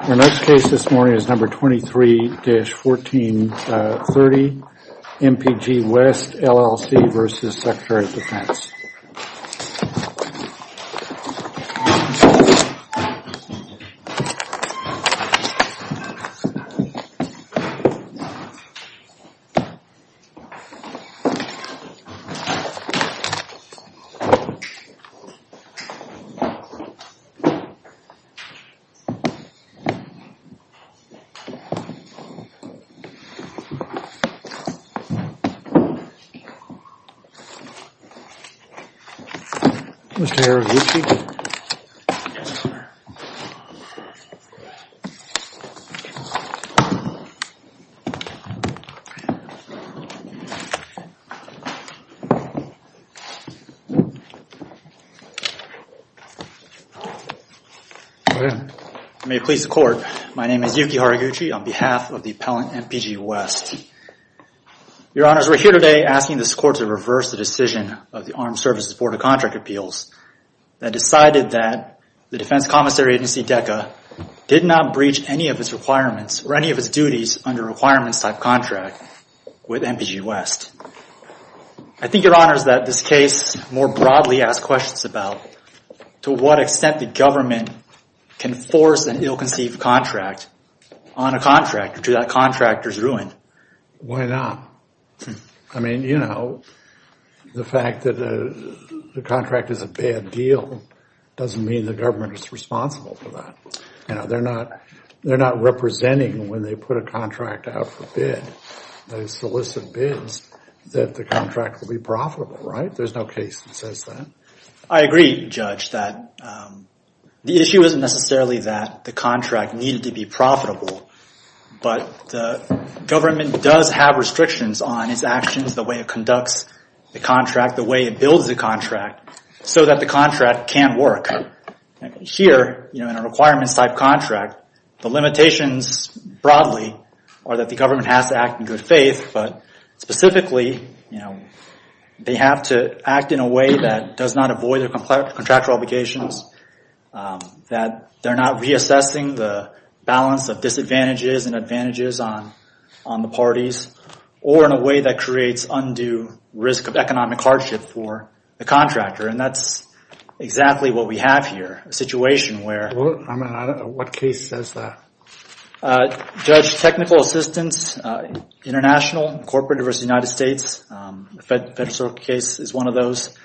Our next case this morning is number 23-1430 MPG West, LLC v. Secretary of Defense May it please the Court, my name is Yuki Haraguchi on behalf of the appellant MPG West. Your Honors, we're here today asking this Court to reverse the decision of the Armed Services Board of Contract Appeals that decided that the Defense Commissary Agency, DECA, did not breach any of its requirements or any of its duties under a requirements-type contract with MPG West. I think, Your Honors, that this case more broadly asks questions about to what extent the government can force an ill-conceived contract on a contractor to that contractor's ruin. Why not? I mean, you know, the fact that the contract is a bad deal doesn't mean the government is responsible for that. They're not representing when they put a contract out for bid. They solicit bids that the contract will be profitable, right? There's no case that says that. I agree, Judge, that the issue isn't necessarily that the contract needed to be profitable, but the government does have restrictions on its actions, the way it conducts the contract, the way it builds the contract, so that the contract can work. Here, you know, in a requirements-type contract, the limitations broadly are that the government has to act in good faith, but specifically, you know, they have to act in a way that does not avoid their contractual obligations, that they're not reassessing the balance of disadvantages and advantages on the parties, or in a way that creates undue risk of economic hardship for the contractor, and that's exactly what we have here, a situation where... Well, I mean, I don't know what case says that. Judge, technical assistance, international, corporate versus United States, the FedServe case is one of those.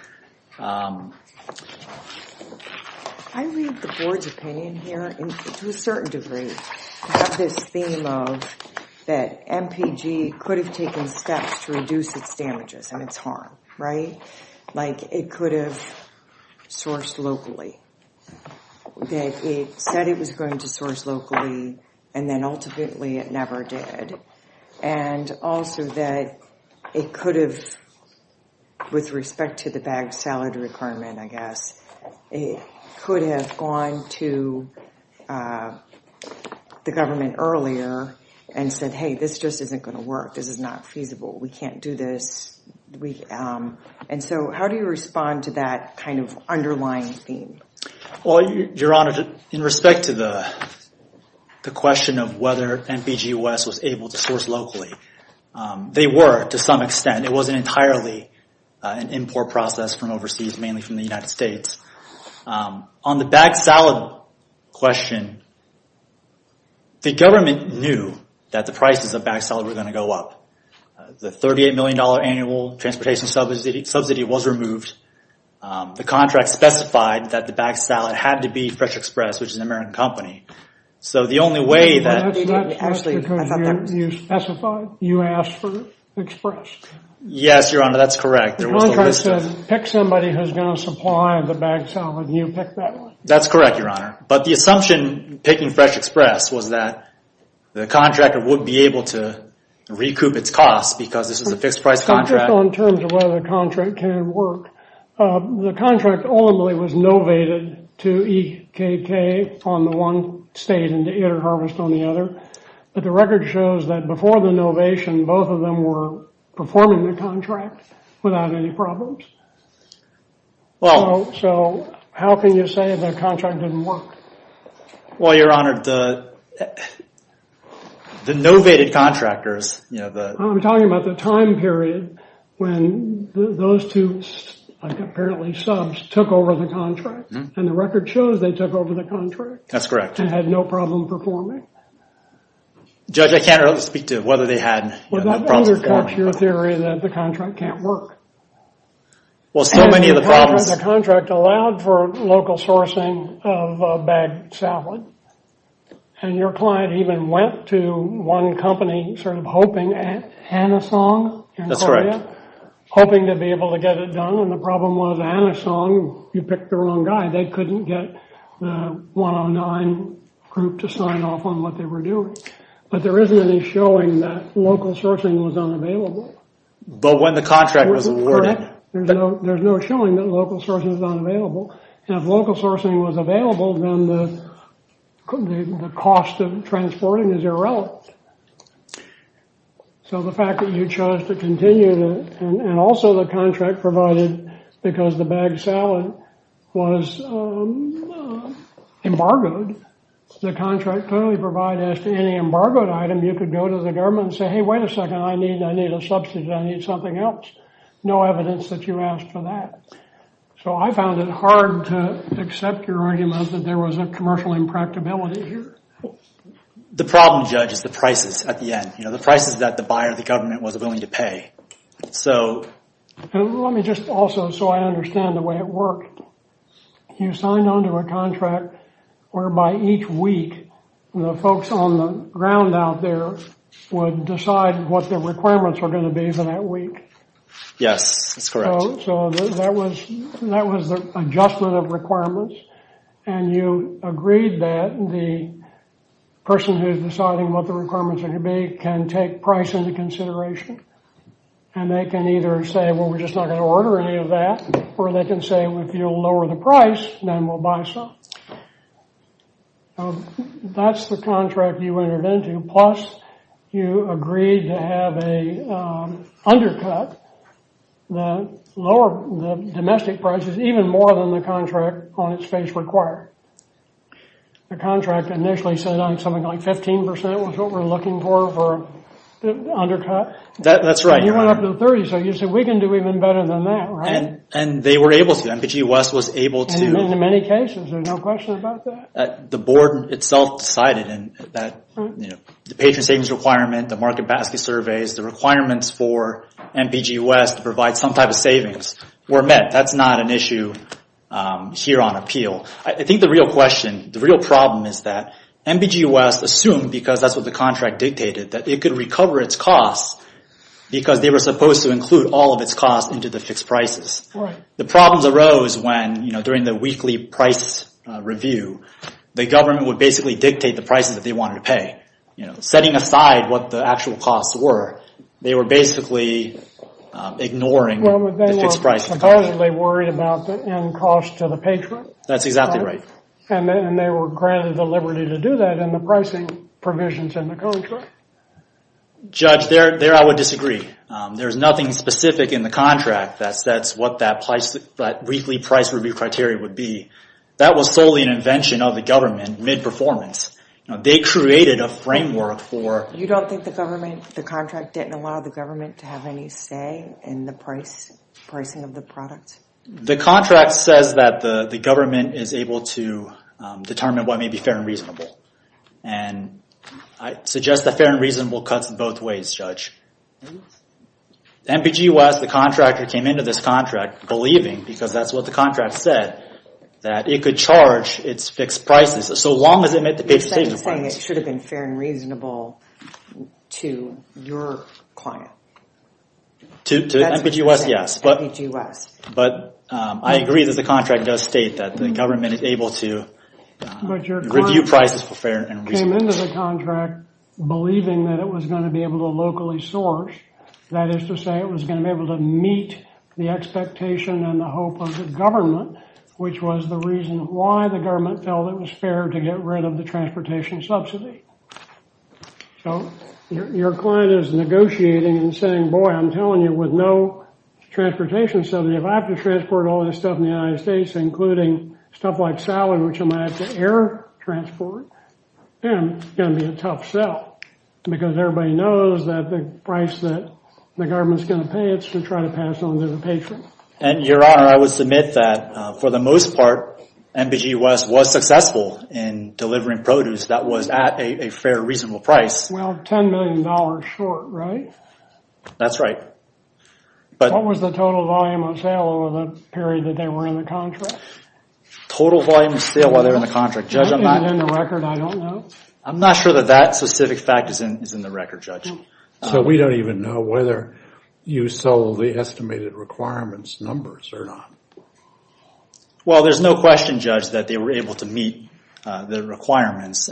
I read the board's opinion here to a certain degree. We have this theme of that MPG could have taken steps to reduce its damages and its harm, right? Like, it could have sourced locally. That it said it was going to source locally, and then ultimately, it never did. And also that it could have, with respect to the bagged salad requirement, I guess, it could have gone to the government earlier and said, hey, this just isn't going to work, this is not feasible, we can't do this. And so how do you respond to that kind of underlying theme? Well, Your Honor, in respect to the question of whether MPG-US was able to source locally, they were, to some extent. It wasn't entirely an import process from overseas, mainly from the United States. On the bagged salad question, the government knew that the prices of bagged salad were going to go up. The $38 million annual transportation subsidy was removed. The contract specified that the bagged salad had to be Fresh Express, which is an American company. So the only way that... That's not because you specified, you asked for Express. Yes, Your Honor, that's correct. The contract said pick somebody who's going to supply the bagged salad, and you picked that one. That's correct, Your Honor. But the assumption picking Fresh Express was that the contractor would be able to recoup its costs because this is a fixed-price contract. Just on terms of whether the contract can work, the contract only was novated to EKK on the one state and to Interharvest on the other. But the record shows that before the novation, both of them were performing the contract without any problems. So how can you say the contract didn't work? Well, Your Honor, the novated contractors, you know, the... I'm talking about the time period when those two, like apparently subs, took over the contract. And the record shows they took over the contract. That's correct. And had no problem performing. Judge, I can't really speak to whether they had problems performing. Well, that undercuts your theory that the contract can't work. Well, so many of the problems... It allowed for local sourcing of a bagged salad. And your client even went to one company sort of hoping at Hanasong in Korea. That's correct. Hoping to be able to get it done. And the problem was Hanasong, you picked the wrong guy. They couldn't get the 109 group to sign off on what they were doing. But there isn't any showing that local sourcing was unavailable. But when the contract was awarded... There's no showing that local sourcing is unavailable. And if local sourcing was available, then the cost of transporting is irrelevant. So the fact that you chose to continue, and also the contract provided, because the bagged salad was embargoed, the contract clearly provided as to any embargoed item, you could go to the government and say, hey, wait a second. I need a subsidy. I need something else. No evidence that you asked for that. So I found it hard to accept your argument that there was a commercial impracticability here. The problem, Judge, is the prices at the end. You know, the prices that the buyer, the government, was willing to pay. So... Let me just also... So I understand the way it worked. You signed onto a contract whereby each week the folks on the ground out there would decide what their requirements were going to be for that week. Yes, that's correct. So that was the adjustment of requirements. And you agreed that the person who's deciding what the requirements are going to be can take price into consideration. And they can either say, well, we're just not going to order any of that. Or they can say, if you'll lower the price, then we'll buy some. That's the contract you entered into. Plus, you agreed to have a undercut. The lower domestic price is even more than the contract on its face required. The contract initially said something like 15% was what we're looking for for undercut. That's right. You went up to 30%. So you said, we can do even better than that, right? And they were able to. MPG West was able to. And in many cases. There's no question about that. The board itself decided that the patron savings requirement, the market basket surveys, the requirements for MPG West to provide some type of savings were met. That's not an issue here on appeal. I think the real question, the real problem is that MPG West assumed, because that's what the contract dictated, that it could recover its costs because they were supposed to include all of its costs into the fixed prices. The problems arose when, during the weekly price review, the government would basically dictate the prices that they wanted to pay. Setting aside what the actual costs were, they were basically ignoring the fixed prices. They were supposedly worried about the end cost to the patron. That's exactly right. And they were granted the liberty to do that in the pricing provisions in the contract. Judge, there I would disagree. There's nothing specific in the contract. That's what that weekly price review criteria would be. That was solely an invention of the government, mid-performance. They created a framework for... You don't think the government, the contract didn't allow the government to have any say in the pricing of the product? The contract says that the government is able to determine what may be fair and reasonable. And I suggest that fair and reasonable cuts in both ways, Judge. MPG West, the contractor, came into this contract believing, because that's what the contract said, that it could charge its fixed prices so long as it met the patron's savings requirements. You're saying it should have been fair and reasonable to your client. To MPG West, yes. MPG West. But I agree that the contract does state that the government is able to review prices for fair and reasonable. It came into the contract believing that it was going to be able to locally source. That is to say, it was going to be able to meet the expectation and the hope of the government, which was the reason why the government felt it was fair to get rid of the transportation subsidy. So your client is negotiating and saying, boy, I'm telling you, with no transportation subsidy, if I have to transport all this stuff in the United States, including stuff like salad, which I might have to air transport, then it's going to be a tough sell. Because everybody knows that the price that the government's going to pay, it's to try to pass on to the patron. And your honor, I would submit that for the most part, MPG West was successful in delivering produce that was at a fair, reasonable price. Well, $10 million short, right? That's right. What was the total volume of sale over the period that they were in the contract? Total volume of sale while they were in the contract? That is in the record. I don't know. I'm not sure that that specific fact is in the record, Judge. So we don't even know whether you sold the estimated requirements numbers or not. Well, there's no question, Judge, that they were able to meet the requirements.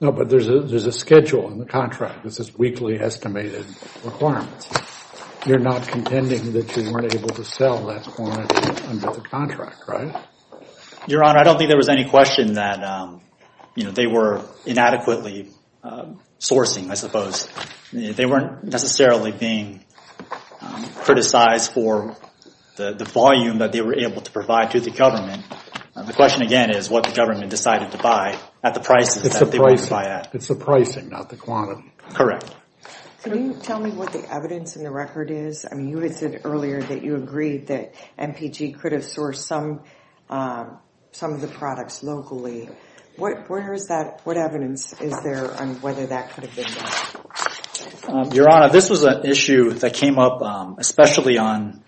No, but there's a schedule in the contract. This is weekly estimated requirements. You're not contending that you weren't able to sell that quantity under the contract, right? Your honor, I don't think there was any question that they were inadequately sourcing, I suppose. They weren't necessarily being criticized for the volume that they were able to provide to the government. The question again is what the government decided to buy at the prices that they were going to buy at. It's the pricing, not the quantity. Correct. Can you tell me what the evidence in the record is? I mean, you had said earlier that you agreed that MPG could have sourced some of the products locally. What evidence is there on whether that could have been done? Your honor, this was an issue that came up especially on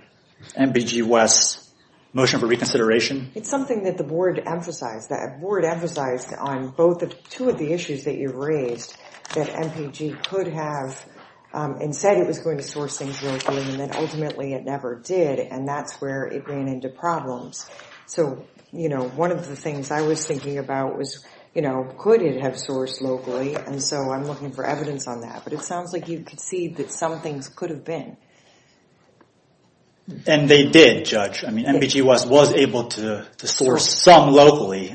MPG West's motion for reconsideration. It's something that the board emphasized. The board emphasized on two of the issues that you raised that MPG could have, and said it was going to source things locally, and then ultimately it never did. And that's where it ran into problems. So, you know, one of the things I was thinking about was, you know, could it have sourced locally? And so I'm looking for evidence on that. But it sounds like you could see that some things could have been. And they did, Judge. I mean, MPG West was able to source some locally.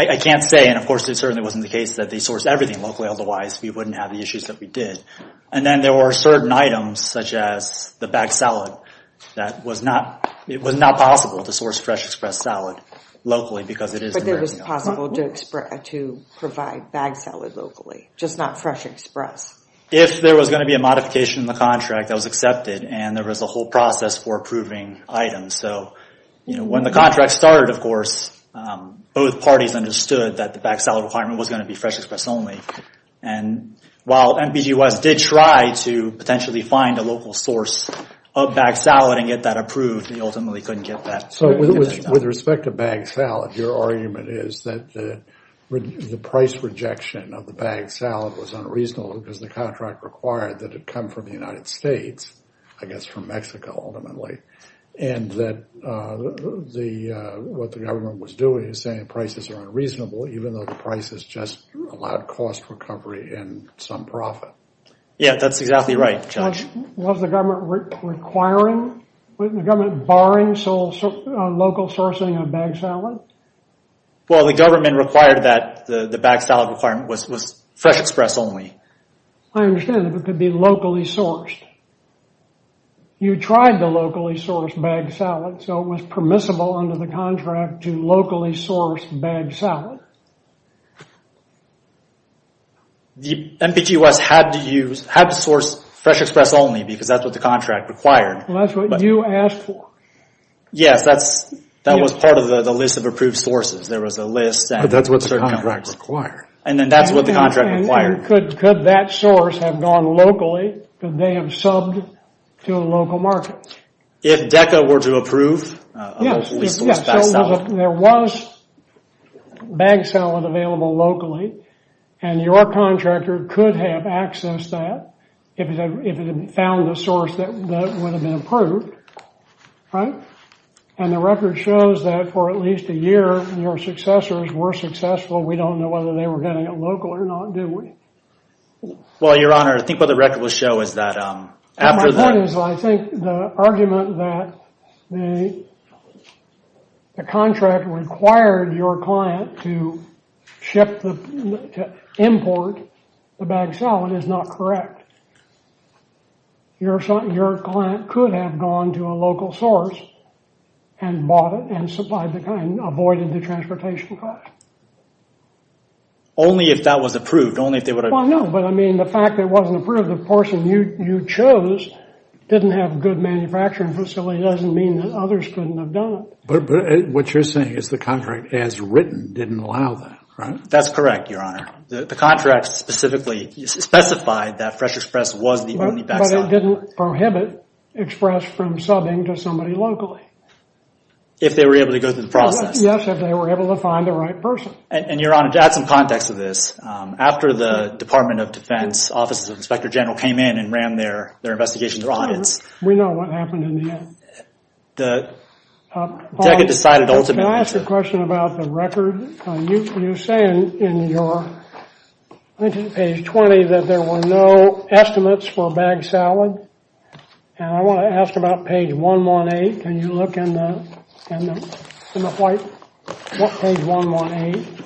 I can't say, and of course it certainly wasn't the case that they sourced everything locally. Otherwise, we wouldn't have the issues that we did. And then there were certain items such as the bagged salad that was not, it was not possible to source Fresh Express salad locally because it is American. But it was possible to provide bagged salad locally, just not Fresh Express? If there was going to be a modification in the contract that was accepted, and there was a whole process for approving items. So, you know, when the contract started, of course, both parties understood that the bagged salad requirement was going to be Fresh Express only. And while MPG West did try to potentially find a local source of bagged salad and get that approved, they ultimately couldn't get that. So with respect to bagged salad, your argument is that the price rejection of the bagged salad was unreasonable because the contract required that it come from the United States, I guess from Mexico, ultimately. And that what the government was doing is saying prices are unreasonable, even though the price is just allowed cost recovery and some profit. Yeah, that's exactly right, Judge. Was the government requiring, was the government barring local sourcing of bagged salad? Well, the government required that the bagged salad requirement was Fresh Express only. I understand if it could be locally sourced. You tried the locally sourced bagged salad, so it was permissible under the contract to locally source bagged salad. MPG West had to source Fresh Express only because that's what the contract required. Well, that's what you asked for. Yes, that was part of the list of approved sources. There was a list. But that's what the contract required. And then that's what the contract required. Could that source have gone locally? Could they have subbed to a local market? If DECA were to approve a locally sourced bagged salad. There was bagged salad available locally, and your contractor could have accessed that if it had found a source that would have been approved. Right? And the record shows that for at least a year, your successors were successful. We don't know whether they were getting it local or not, do we? Well, your honor, I think what the record will show is that... My point is, I think the argument that the contract required your client to import the bagged salad is not correct. Your client could have gone to a local source and bought it and supplied the kind, avoided the transportation cost. Only if that was approved, only if they would have... Well, no, but I mean, the fact that it wasn't approved, the person you chose didn't have a good manufacturing facility doesn't mean that others couldn't have done it. But what you're saying is the contract as written didn't allow that, right? That's correct, your honor. The contract specifically specified that Fresh Express was the only bagged salad. But it didn't prohibit Express from subbing to somebody locally. If they were able to go through the process. Yes, if they were able to find the right person. And your honor, to add some context to this. After the Department of Defense, Office of the Inspector General came in and ran their investigation, their audits. We know what happened in the end. The... Deca decided ultimately... Can I ask a question about the record? You're saying in your page 20 that there were no estimates for a bagged salad. And I want to ask about page 118. Can you look in the white... Page 118.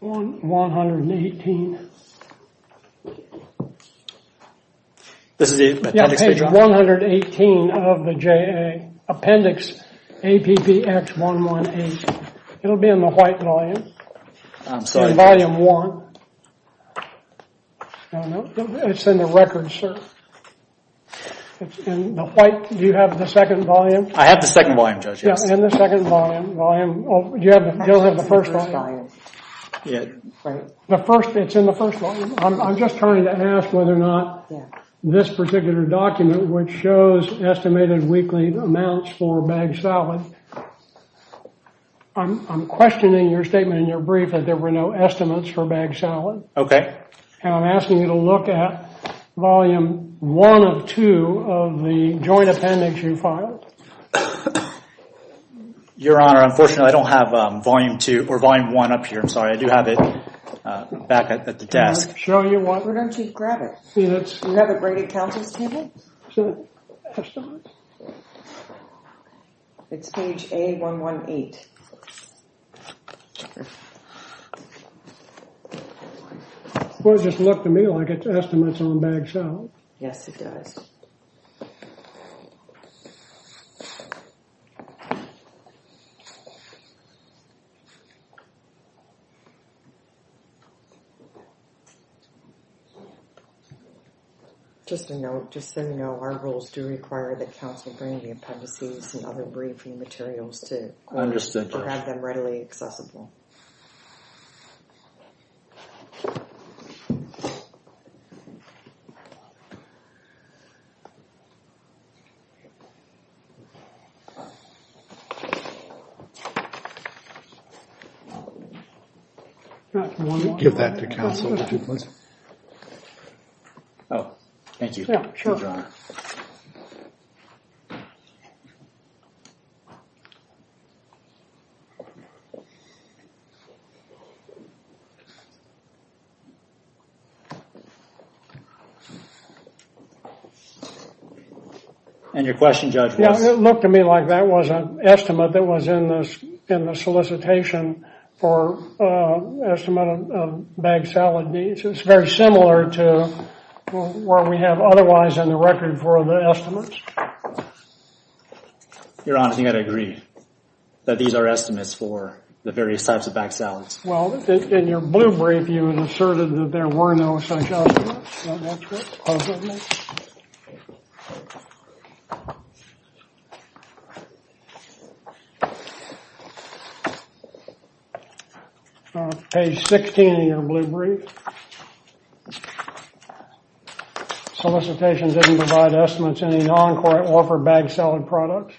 118. This is the... Page 118 of the J.A. Appendix APPX 118. It'll be in the white volume. I'm sorry. Volume 1. It's in the record, sir. It's in the white. Do you have the second volume? I have the second volume, Judge, yes. In the second volume. Do you have the first volume? Yeah. The first, it's in the first one. I'm just trying to ask whether or not this particular document, which shows estimated weekly amounts for a bagged salad. I'm questioning your statement in your brief that there were no estimates for a bagged salad. Okay. And I'm asking you to look at volume 1 of 2 of the joint appendix you filed. Your Honor, unfortunately, I don't have volume 2 or volume 1 up here. I'm sorry. I do have it back at the desk. Can I show you one? Why don't you grab it? See, that's... Do you have the Brady Council's table? It's page A118. Well, it just looked to me like it's estimates on bagged salad. Yes, it does. Just a note, just so you know, our rules do require the Council bring the appendices and other briefing materials to have them readily accessible. Do you want to give that to Council? Oh, thank you, Your Honor. And your question, Judge, was? Yeah, it looked to me like that was an estimate that was in the solicitation for an estimate of bagged salad needs. It's very similar to where we have otherwise in the record for the estimates. Your Honor, I think I'd agree that these are estimates for the various types of bagged salads. Well, in your blue brief, you had asserted that there were no such estimates. Page 16 of your blue brief. Solicitation didn't provide estimates any non-court-offered bagged salad products.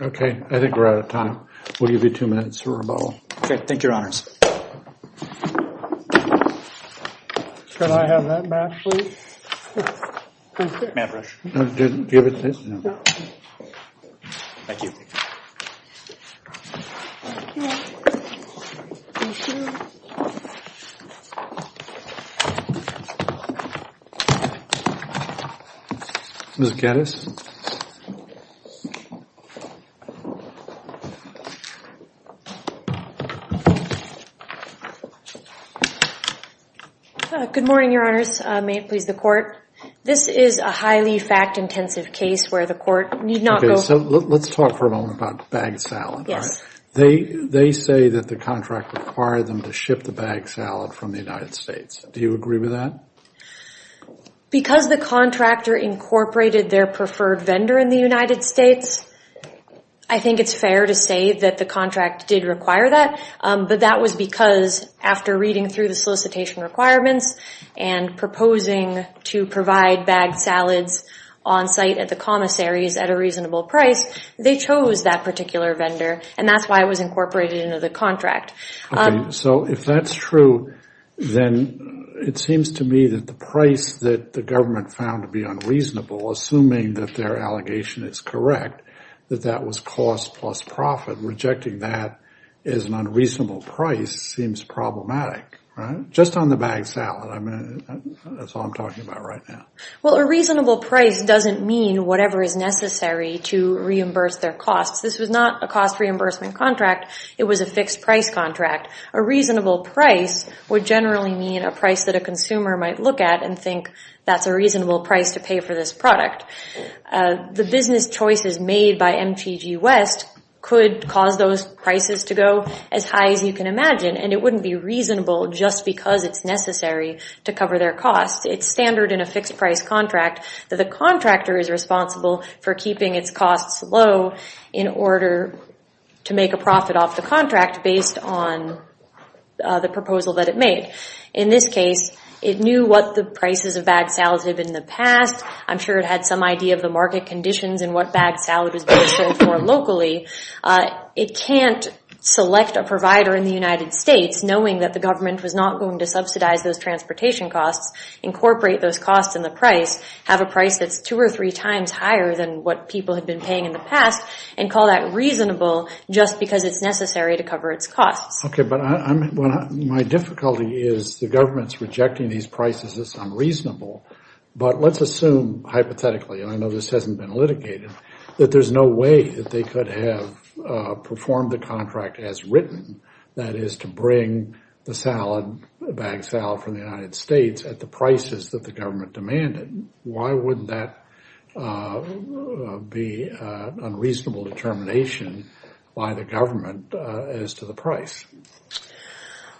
Okay, I think we're out of time. We'll give you two minutes for rebuttal. Okay, thank you, Your Honors. Can I have that back, please? May I have a brush? No, do you have a brush? No. Thank you. Good morning, Your Honors. May it please the Court? This is a highly fact-intensive case where the Court need not go... Okay, so let's talk for a moment about bagged salad, all right? They say that the contract required them to ship the bagged salad from the United States. Do you agree with that? Because the contractor incorporated their preferred vendor in the United States, I think it's fair to say that the contract did require that, but that was because after reading through the solicitation requirements and proposing to provide bagged salads on-site at the commissaries at a reasonable price, they chose that particular vendor, and that's why it was incorporated into the contract. So if that's true, then it seems to me that the price that the government found to be unreasonable, assuming that their allegation is correct, that that was cost plus profit, rejecting that as an unreasonable price seems problematic, right? Just on the bagged salad, that's all I'm talking about right now. Well, a reasonable price doesn't mean whatever is necessary to reimburse their costs. This was not a cost reimbursement contract. It was a fixed price contract. A reasonable price would generally mean a price that a consumer might look at and think that's a reasonable price to pay for this product. The business choices made by MTG West could cause those prices to go as high as you can imagine, and it wouldn't be reasonable just because it's necessary to cover their costs. It's standard in a fixed price contract that the contractor is responsible for keeping its costs low in order to make a profit off the contract based on the proposal that it made. In this case, it knew what the prices of bagged salads had been in the past. I'm sure it had some idea of the market conditions and what bagged salad was being sold for locally. It can't select a provider in the United States, knowing that the government was not going to subsidize those transportation costs, incorporate those costs in the price, have a price that's two or three times higher than what people had been paying in the past, and call that reasonable just because it's necessary to cover its costs. Okay, but my difficulty is the government's rejecting these prices as unreasonable, but let's assume, hypothetically, and I know this hasn't been litigated, that there's no way that they could have performed the contract as written, that is to bring the bagged salad from the United States at the prices that the government demanded. Why wouldn't that be an unreasonable determination by the government as to the price?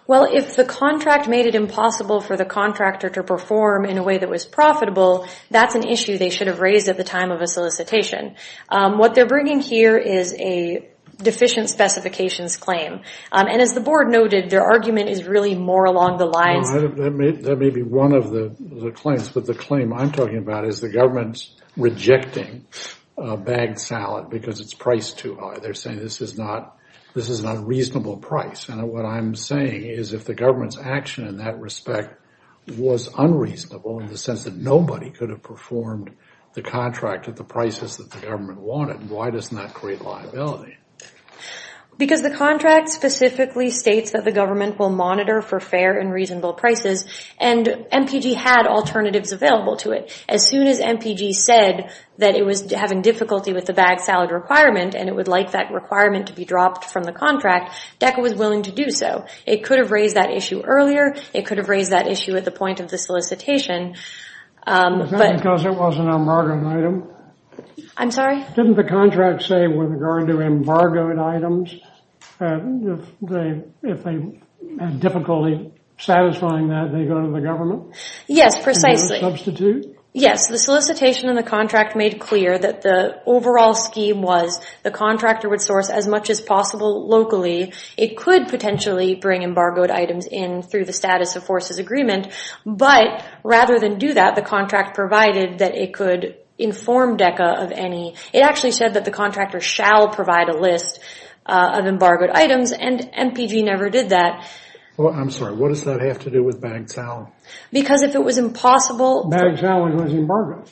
Well, if the contract made it impossible for the contractor to perform in a way that was profitable, that's an issue they should have raised at the time of a solicitation. What they're bringing here is a deficient specifications claim, and as the board noted, their argument is really more along the lines... That may be one of the claims, but the claim I'm talking about is the government's rejecting a bagged salad because it's priced too high. They're saying this is not a reasonable price, and what I'm saying is if the government's action in that respect was unreasonable in the sense that nobody could have performed the contract at the prices that the government wanted, why doesn't that create liability? Because the contract specifically states that the government will monitor for fair and reasonable prices, and MPG had alternatives available to it. As soon as MPG said that it was having difficulty with the bagged salad requirement and it would like that requirement to be dropped from the contract, DECA was willing to do so. It could have raised that issue earlier. It could have raised that issue at the point of the solicitation, but... Is that because it was an embargoed item? I'm sorry? Didn't the contract say with regard to embargoed items, if they had difficulty satisfying that, they go to the government? Yes, precisely. Substitute? Yes, the solicitation and the contract made clear that the overall scheme was the contractor would source as much as possible locally. It could potentially bring embargoed items in through the status of forces agreement, but rather than do that, the contract provided that it could inform DECA of any... It actually said that the contractor shall provide a list of embargoed items, and MPG never did that. I'm sorry, what does that have to do with bagged salad? Because if it was impossible... Bagged salad was embargoed.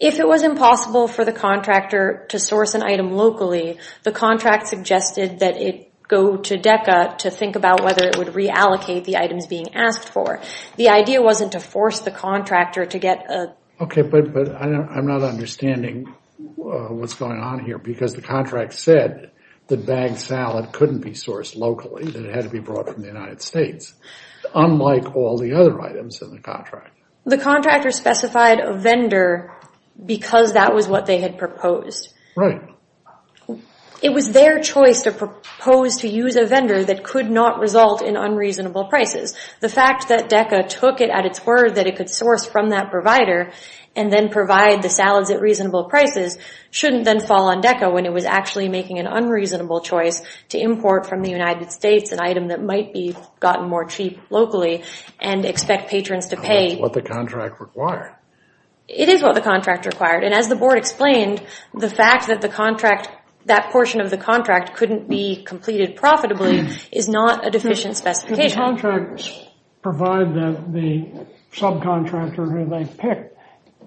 If it was impossible for the contractor to source an item locally, the contract suggested that it go to DECA to think about whether it would reallocate the items being asked for. The idea wasn't to force the contractor to get a... Okay, but I'm not understanding what's going on here, because the contract said that bagged salad couldn't be sourced locally, that it had to be brought from the United States, unlike all the other items in the contract. The contractor specified a vendor because that was what they had proposed. Right. It was their choice to propose to use a vendor that could not result in unreasonable prices. The fact that DECA took it at its word that it could source from that provider and then provide the salads at reasonable prices shouldn't then fall on DECA when it was actually making an unreasonable choice to import from the United States an item that might be gotten more cheap locally and expect patrons to pay... That's what the contract required. It is what the contract required, and as the board explained, the fact that the contract... that portion of the contract couldn't be completed profitably is not a deficient specification. Did the contract provide that the subcontractor who they picked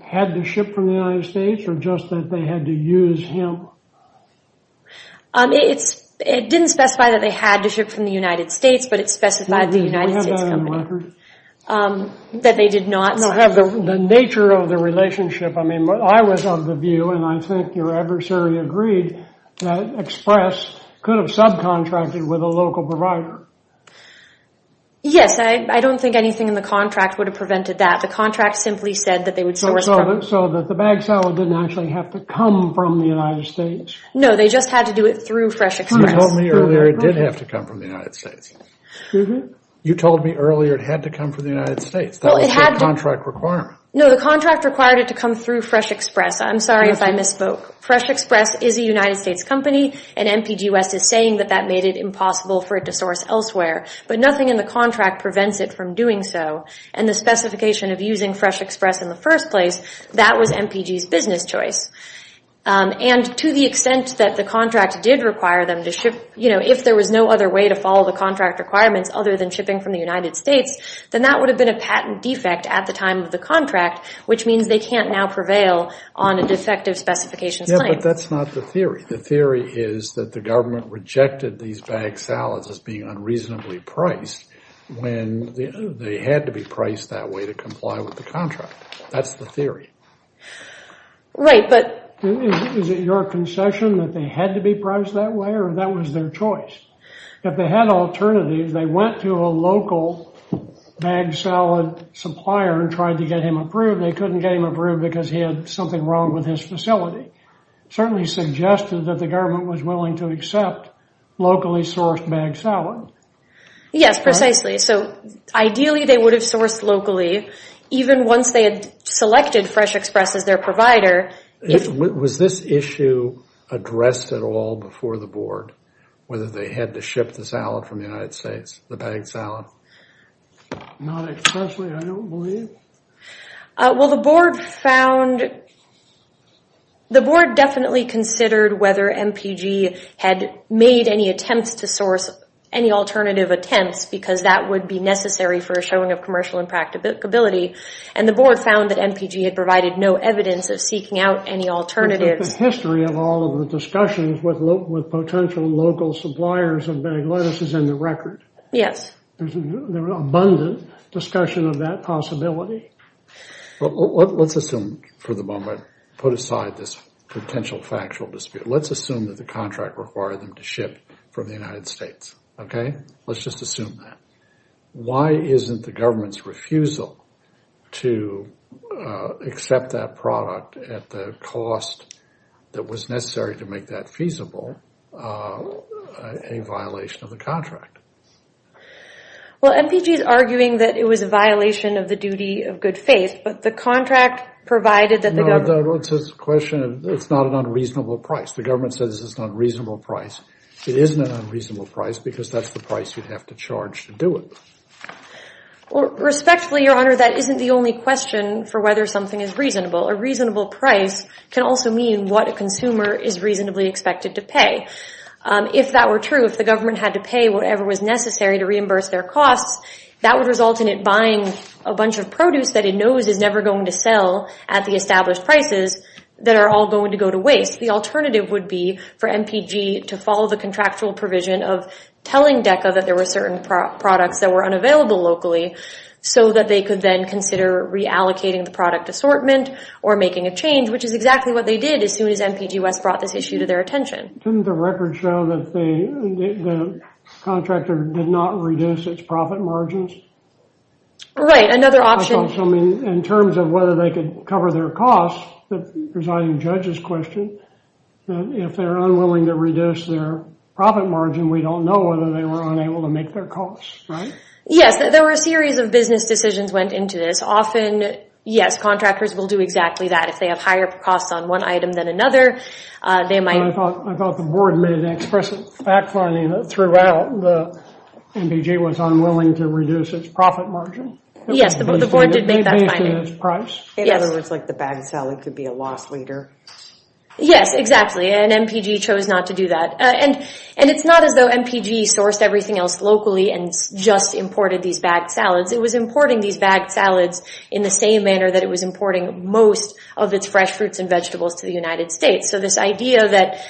had to ship from the United States, or just that they had to use him? It didn't specify that they had to ship from the United States, but it specified the United States company, that they did not... No, have the nature of the relationship. I was of the view, and I think your adversary agreed, that Express could have subcontracted with a local provider. Yes, I don't think anything in the contract would have prevented that. The contract simply said that they would source from... So that the bag salad didn't actually have to come from the United States? No, they just had to do it through Fresh Express. You told me earlier it did have to come from the United States. You told me earlier it had to come from the United States. That was the contract requirement. No, the contract required it to come through Fresh Express. I'm sorry if I misspoke. Fresh Express is a United States company, and MPG West is saying that that made it impossible for it to source elsewhere. But nothing in the contract prevents it from doing so. And the specification of using Fresh Express in the first place, that was MPG's business choice. And to the extent that the contract did require them to ship, if there was no other way to follow the contract requirements other than shipping from the United States, then that would have been a patent defect at the time of the contract, which means they can't now prevail on a defective specification claim. But that's not the theory. The theory is that the government rejected these bag salads as being unreasonably priced when they had to be priced that way to comply with the contract. That's the theory. Right, but... Is it your concession that they had to be priced that way, or that was their choice? If they had alternatives, they went to a local bag salad supplier and tried to get him approved. They couldn't get him approved because he had something wrong with his facility. Certainly suggested that the government was willing to accept locally sourced bag salad. Yes, precisely. So ideally, they would have sourced locally, even once they had selected Fresh Express as their provider. Was this issue addressed at all before the board, whether they had to ship the salad from the United States, the bag salad? Not especially, I don't believe. Well, the board found... The board definitely considered whether MPG had made any attempts to source any alternative attempts because that would be necessary for a showing of commercial impracticability. And the board found that MPG had provided no evidence of seeking out any alternatives. The history of all of the discussions with potential local suppliers of bagged lettuce is in the record. Yes. There was abundant discussion of that possibility. Let's assume for the moment, put aside this potential factual dispute. Let's assume that the contract required them to ship from the United States, okay? Let's just assume that. Why isn't the government's refusal to accept that product at the cost that was necessary to make that feasible a violation of the contract? Well, MPG is arguing that it was a violation of the duty of good faith, but the contract provided that the government... It's a question of... It's not an unreasonable price. The government says it's not a reasonable price. It isn't an unreasonable price because that's the price you'd have to charge to do it. Respectfully, Your Honor, that isn't the only question for whether something is reasonable. A reasonable price can also mean what a consumer is reasonably expected to pay. If that were true, if the government had to pay whatever was necessary to reimburse their costs, that would result in it buying a bunch of produce that it knows is never going to sell at the established prices that are all going to go to waste. The alternative would be for MPG to follow the contractual provision of telling DECA that there were certain products that were unavailable locally so that they could then consider reallocating the product assortment or making a change, which is exactly what they did as soon as MPG West brought this issue to their attention. Didn't the record show that the contractor did not reduce its profit margins? Right, another option... In terms of whether they could cover their costs, the presiding judge's question, if they're unwilling to reduce their profit margin, we don't know whether they were unable to make their costs, right? Yes, there were a series of business decisions went into this. Yes, contractors will do exactly that. If they have higher costs on one item than another, they might... I thought the board made an expressive fact finding that throughout, MPG was unwilling to reduce its profit margin. Yes, the board did make that finding. In other words, like the bagged salad could be a loss later. Yes, exactly, and MPG chose not to do that. And it's not as though MPG sourced everything else locally and just imported these bagged salads. It was importing these bagged salads in the same manner that it was importing most of its fresh fruits and vegetables to the United States. So this idea that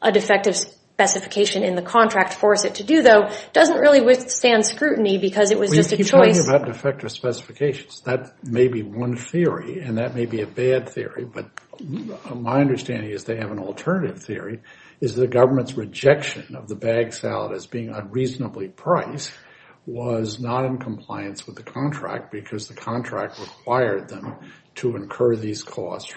a defective specification in the contract forced it to do, though, doesn't really withstand scrutiny because it was just a choice... We keep talking about defective specifications. That may be one theory, and that may be a bad theory, but my understanding is they have an alternative theory, is the government's rejection of the bagged salad as being unreasonably priced was not in compliance with the contract because the contract required them to incur these costs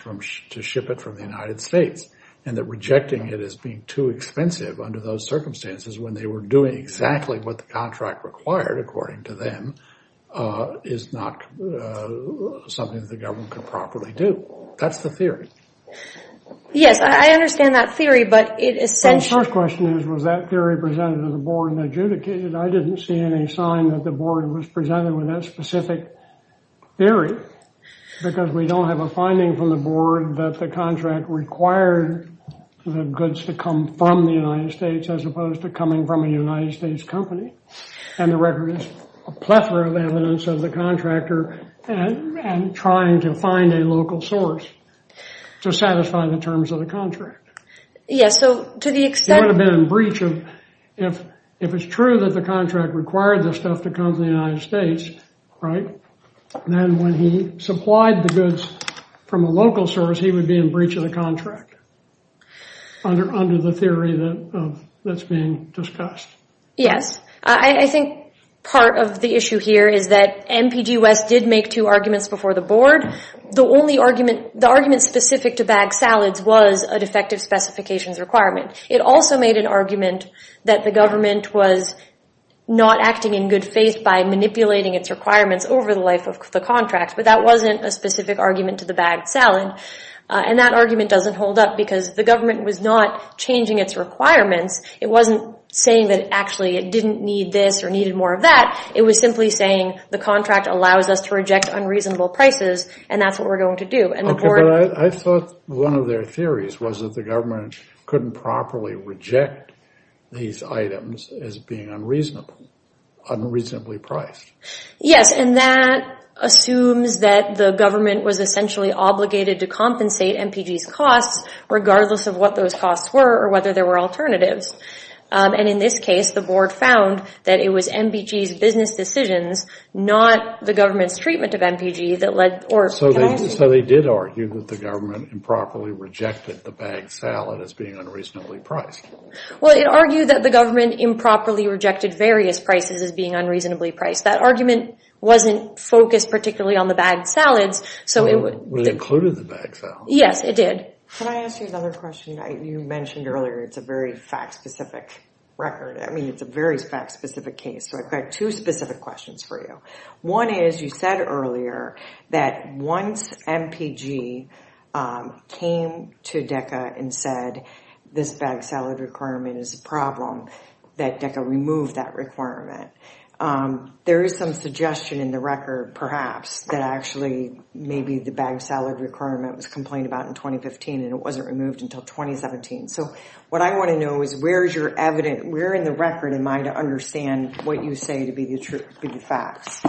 to ship it from the United States, and that rejecting it as being too expensive under those circumstances when they were doing exactly what the contract required, according to them, is not something that the government could properly do. That's the theory. Yes, I understand that theory, but it essentially... The board adjudicated. I didn't see any sign that the board was presented with that specific theory because we don't have a finding from the board that the contract required the goods to come from the United States as opposed to coming from a United States company, and the record is a plethora of evidence of the contractor trying to find a local source to satisfy the terms of the contract. Yes, so to the extent... If it's true that the contract required the stuff to come to the United States, right, then when he supplied the goods from a local source, he would be in breach of the contract under the theory that's being discussed. Yes, I think part of the issue here is that MPG West did make two arguments before the board. The only argument... The argument specific to bagged salads was a defective specifications requirement. It also made an argument that the government was not acting in good faith by manipulating its requirements over the life of the contract, but that wasn't a specific argument to the bagged salad, and that argument doesn't hold up because the government was not changing its requirements. It wasn't saying that actually it didn't need this or needed more of that. It was simply saying the contract allows us to reject unreasonable prices, and that's what we're going to do. Okay, but I thought one of their theories was that the government couldn't properly reject these items as being unreasonable, unreasonably priced. Yes, and that assumes that the government was essentially obligated to compensate MPG's costs regardless of what those costs were or whether there were alternatives, and in this case, the board found that it was MPG's business decisions, not the government's treatment of MPG that led... So they did argue that the government improperly rejected the bagged salad as being unreasonably priced. Well, it argued that the government improperly rejected various prices as being unreasonably priced. That argument wasn't focused particularly on the bagged salads, so it would... Well, it included the bagged salad. Yes, it did. Can I ask you another question? You mentioned earlier it's a very fact-specific record. I mean, it's a very fact-specific case, so I've got two specific questions for you. One is you said earlier that once MPG came to DECA and said, this bagged salad requirement is a problem, that DECA removed that requirement. There is some suggestion in the record, perhaps, that actually maybe the bagged salad requirement was complained about in 2015 and it wasn't removed until 2017. So what I want to know is where is your evident... Where in the record am I to understand what you say to be the facts?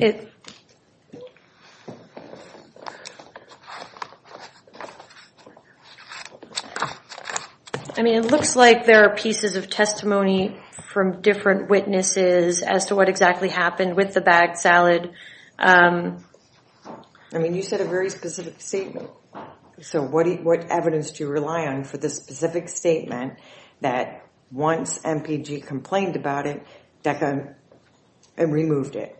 Okay. I mean, it looks like there are pieces of testimony from different witnesses as to what exactly happened with the bagged salad. I mean, you said a very specific statement. So what evidence do you rely on for this specific statement that once MPG complained about it, DECA removed it?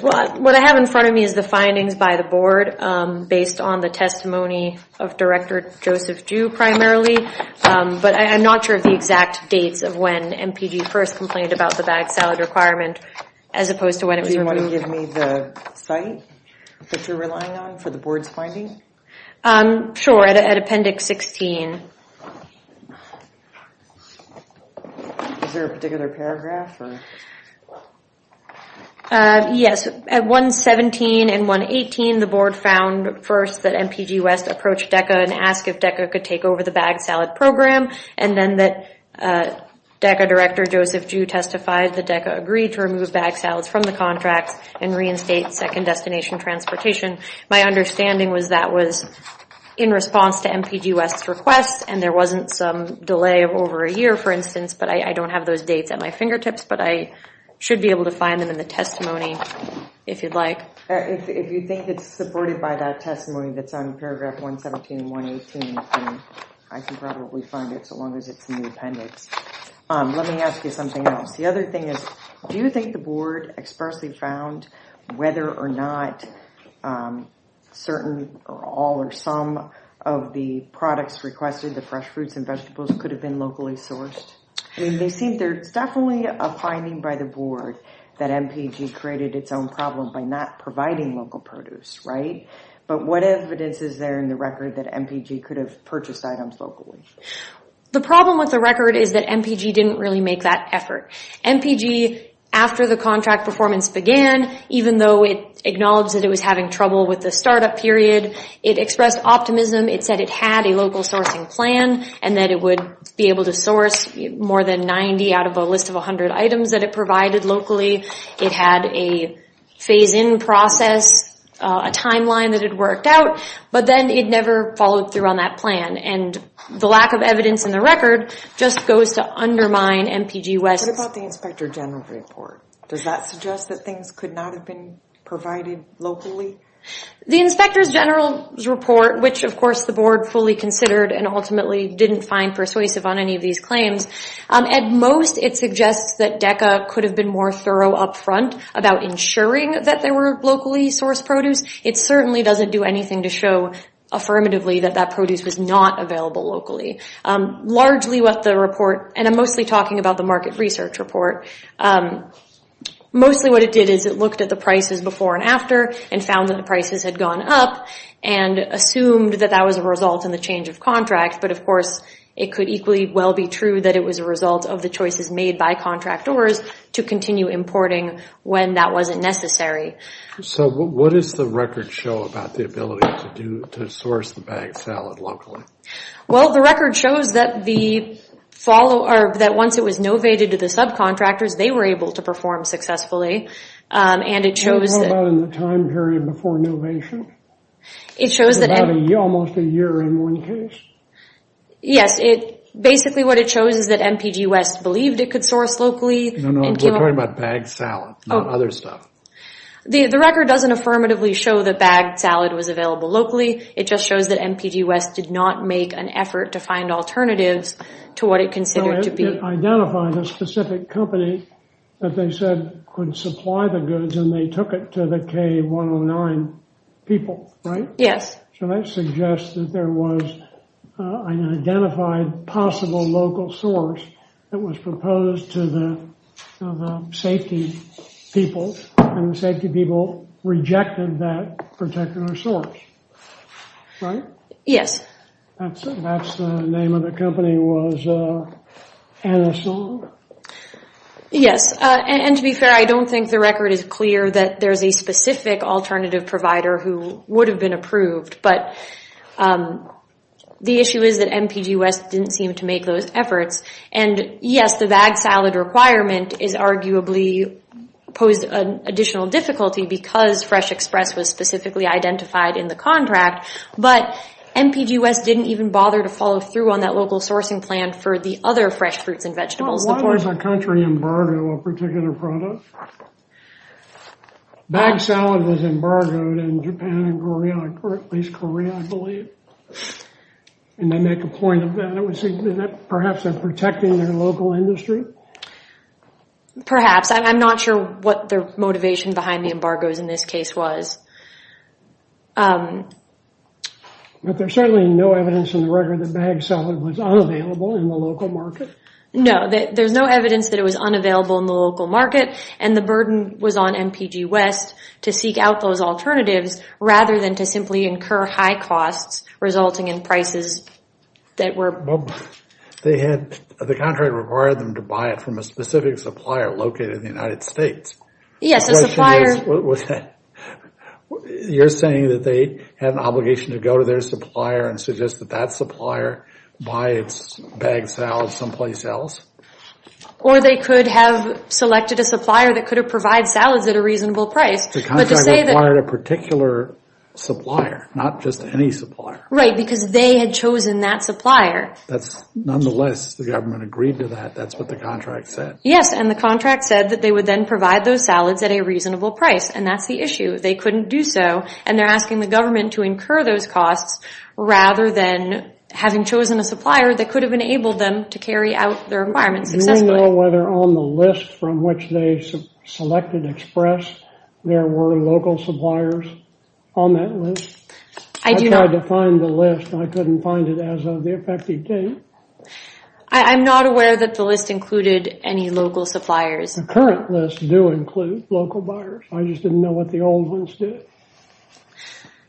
What I have in front of me is the findings by the board based on the testimony of Director Joseph Ju primarily, but I'm not sure of the exact dates of when MPG first complained about the bagged salad requirement as opposed to when it was removed. Do you want to give me the site that you're relying on for the board's findings? Sure, at appendix 16. Is there a particular paragraph? Yes, at 117 and 118, the board found first that MPG West approached DECA and asked if DECA could take over the bagged salad program and then that DECA Director Joseph Ju testified that DECA agreed to remove bagged salads from the contracts and reinstate second destination transportation. My understanding was that was in response to MPG West's request and there wasn't some delay of over a year, for instance, but I don't have those dates at my fingertips, but I should be able to find them in the testimony if you'd like. If you think it's supported by that testimony that's on paragraph 117 and 118, I can probably find it so long as it's in the appendix. Let me ask you something else. The other thing is, do you think the board expressly found whether or not certain or all or some of the products requested, the fresh fruits and vegetables, could have been locally sourced? I mean, they seem there's definitely a finding by the board that MPG created its own problem by not providing local produce, right? But what evidence is there in the record that MPG could have purchased items locally? The problem with the record is that MPG didn't really make that effort. MPG, after the contract performance began, even though it acknowledged that it was having trouble with the startup period, it expressed optimism. It said it had a local sourcing plan and that it would be able to source more than 90 out of a list of 100 items that it provided locally. It had a phase-in process, a timeline that it worked out, but then it never followed through on that plan. And the lack of evidence in the record just goes to undermine MPG West. What about the Inspector General's report? Does that suggest that things could not have been provided locally? The Inspector General's report, which of course the board fully considered and ultimately didn't find persuasive on any of these claims, at most it suggests that DECA could have been more thorough up front about ensuring that they were locally sourced produce. It certainly doesn't do anything to show affirmatively that that produce was not available locally. Largely what the report, and I'm mostly talking about the market research report, mostly what it did is it looked at the prices before and after and found that the prices had gone up and assumed that that was a result in the change of contract. But of course it could equally well be true that it was a result of the choices made by contractors to continue importing when that wasn't necessary. So what does the record show about the ability to source the bagged salad locally? Well, the record shows that once it was novated to the subcontractors, they were able to perform successfully. And it shows... Do you know about in the time period before novation? It shows that... In about almost a year in one case? Yes, basically what it shows is that MPG West believed it could source locally. No, no, we're talking about bagged salad, not other stuff. The record doesn't affirmatively show that bagged salad was available locally. It just shows that MPG West did not make an effort to find alternatives to what it considered to be. It identified a specific company that they said could supply the goods and they took it to the K109 people, right? Yes. So that suggests that there was an identified possible local source that was proposed to the safety people and the safety people rejected that particular source, right? Yes. That's the name of the company was... Yes, and to be fair, I don't think the record is clear that there's a specific alternative provider who would have been approved. But the issue is that MPG West didn't seem to make those efforts. And yes, the bagged salad requirement is arguably posed an additional difficulty because Fresh Express was specifically identified in the contract. But MPG West didn't even bother to follow through on that local sourcing plan for the other fresh fruits and vegetables. Why does a country embargo a particular product? Bagged salad was embargoed in Japan and Korea, or at least Korea, I believe. And they make a point of that. It would seem that perhaps they're protecting their local industry. Perhaps. I'm not sure what their motivation behind the embargoes in this case was. But there's certainly no evidence in the record that bagged salad was unavailable in the local market. No, there's no evidence that it was unavailable in the local market. And the burden was on MPG West to seek out those alternatives rather than to simply incur high costs resulting in prices that were... They had... The contract required them to buy it from a specific supplier located in the United States. Yes, a supplier... You're saying that they had an obligation to go to their supplier and suggest that that supplier buy its bagged salad someplace else? Or they could have selected a supplier that could have provided salads at a reasonable price. The contract required a particular supplier, not just any supplier. Right, because they had chosen that supplier. That's... Nonetheless, the government agreed to that. That's what the contract said. Yes, and the contract said that they would then provide those salads at a reasonable price. And that's the issue. They couldn't do so. And they're asking the government to incur those costs rather than having chosen a supplier that could have enabled them to carry out their requirements successfully. Do you know whether on the list from which they selected Express, there were local suppliers on that list? I do not... I tried to find the list and I couldn't find it as of the effective date. I'm not aware that the list included any local suppliers. The current list do include local buyers. I just didn't know what the old ones did.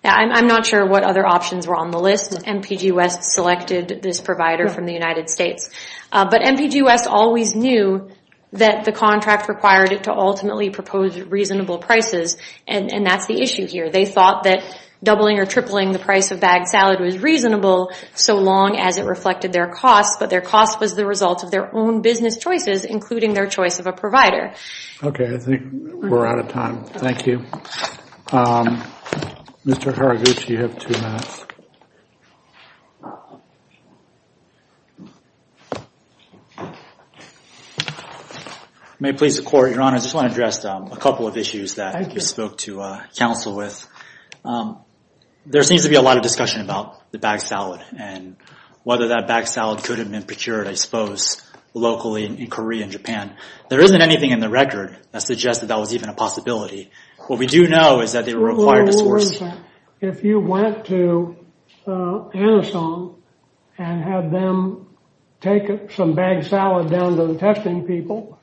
I'm not sure what other options were on the list. MPG West selected this provider from the United States. But MPG West always knew that the contract required it to ultimately propose reasonable prices. And that's the issue here. They thought that doubling or tripling the price of bagged salad was reasonable so long as it reflected their costs. But their cost was the result of their own business choices, including their choice of a provider. Okay, I think we're out of time. Thank you. Mr. Haraguchi, you have two minutes. May it please the Court, Your Honor. I just want to address a couple of issues that you spoke to counsel with. There seems to be a lot of discussion about the bagged salad and whether that bagged salad could have been procured, I suppose, locally in Korea and Japan. There isn't anything in the record that suggested that was even a possibility. What we do know is that they were required to source. If you went to Anason and had them take some bagged salad down to the testing people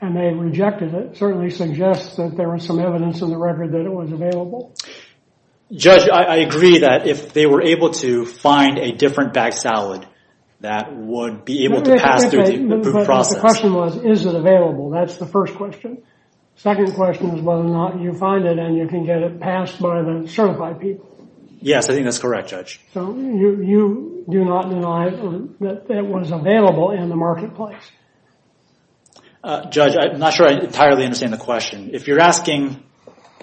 and they rejected it, certainly suggests that there was some evidence in the record that it was available. Judge, I agree that if they were able to find a different bagged salad, that would be able to pass through the food process. But the question was, is it available? That's the first question. Second question is whether or not you find it and you can get it passed by the certified people. Yes, I think that's correct, Judge. So you do not deny that it was available in the marketplace? Judge, I'm not sure I entirely understand the question. If you're asking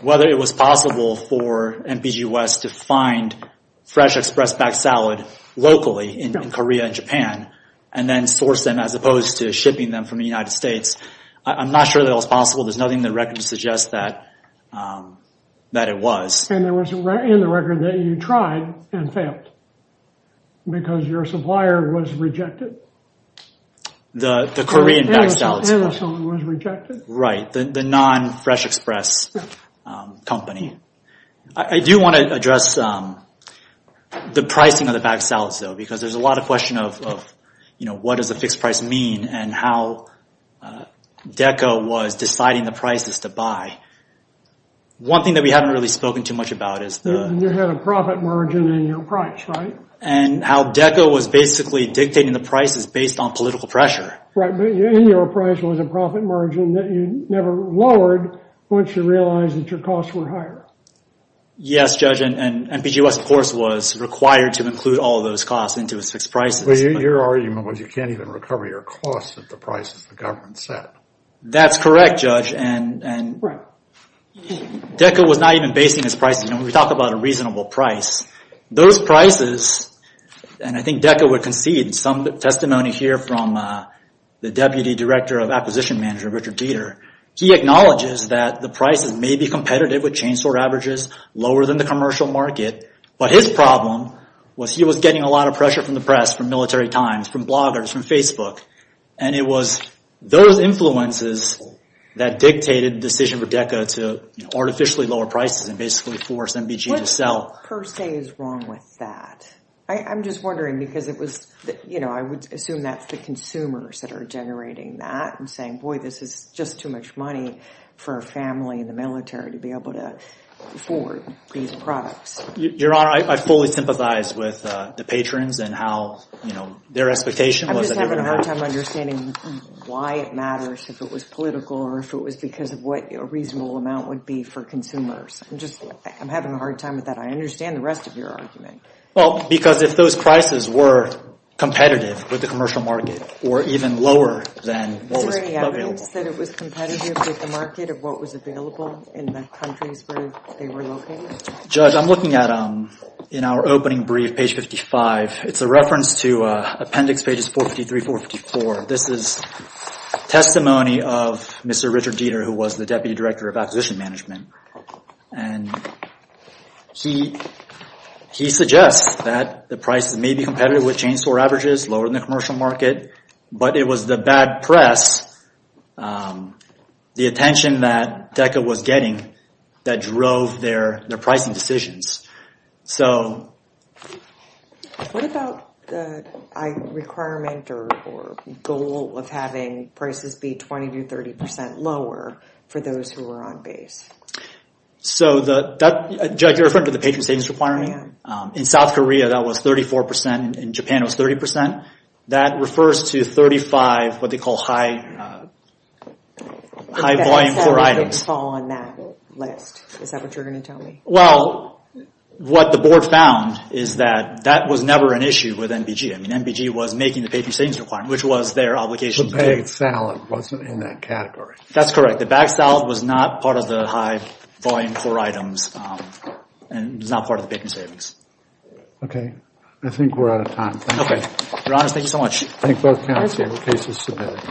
whether it was possible for NPG West to find fresh express bagged salad locally in Korea and Japan and then source them as opposed to shipping them from the United States, I'm not sure that was possible. There's nothing in the record to suggest that it was. And there was in the record that you tried and failed because your supplier was rejected. The Korean bagged salad supplier. Anason was rejected. Right, the non-fresh express company. I do want to address the pricing of the bagged salads though, because there's a lot of question of what does a fixed price mean and how DECA was deciding the prices to buy. One thing that we haven't really spoken too much about is the... You had a profit margin in your price, right? And how DECA was basically dictating the prices based on political pressure. Right, but in your price was a profit margin that you never lowered once you realized that your costs were higher. Yes, Judge. And NPGOS, of course, was required to include all those costs into its fixed prices. Your argument was you can't even recover your costs at the prices the government set. That's correct, Judge. DECA was not even basing its prices. We talk about a reasonable price. Those prices, and I think DECA would concede some testimony here from the Deputy Director of Acquisition Manager, Richard Dieter. He acknowledges that the prices may be competitive with chainsaw averages, lower than the commercial market. But his problem was he was getting a lot of pressure from the press, from military times, from bloggers, from Facebook. And it was those influences that dictated the decision for DECA to artificially lower prices and basically force NBG to sell. What per se is wrong with that? I'm just wondering because it was... I would assume that's the consumers that are generating that and saying, boy, this is just too much money for a family in the military to be able to afford these products. Your Honor, I fully sympathize with the patrons and how, you know, their expectation was... I'm just having a hard time understanding why it matters if it was political or if it was because of what a reasonable amount would be for consumers. I'm just... I'm having a hard time with that. I understand the rest of your argument. Well, because if those prices were competitive with the commercial market or even lower than... Is there any evidence that it was competitive with the market of what was available in the countries where they were located? Judge, I'm looking at... In our opening brief, page 55, it's a reference to appendix pages 453, 454. This is testimony of Mr. Richard Dieter, who was the Deputy Director of Acquisition Management. And he suggests that the prices may be competitive with chain store averages lower than the commercial market, but it was the bad press, the attention that DECA was getting that drove their pricing decisions. So... What about the requirement or goal of having prices be 20% to 30% lower for those who were on base? So the... Judge, you're referring to the patron savings requirement. In South Korea, that was 34%. In Japan, it was 30%. That refers to 35%, what they call high... High volume core items. The bagged salad didn't fall on that list. Is that what you're going to tell me? Well, what the board found is that that was never an issue with NBG. I mean, NBG was making the patron savings requirement, which was their obligation... The bagged salad wasn't in that category. That's correct. The bagged salad was not part of the high volume core items and was not part of the patron savings. Okay. I think we're out of time. Okay. Your Honor, thank you so much. I think both counts. Your case is submitted.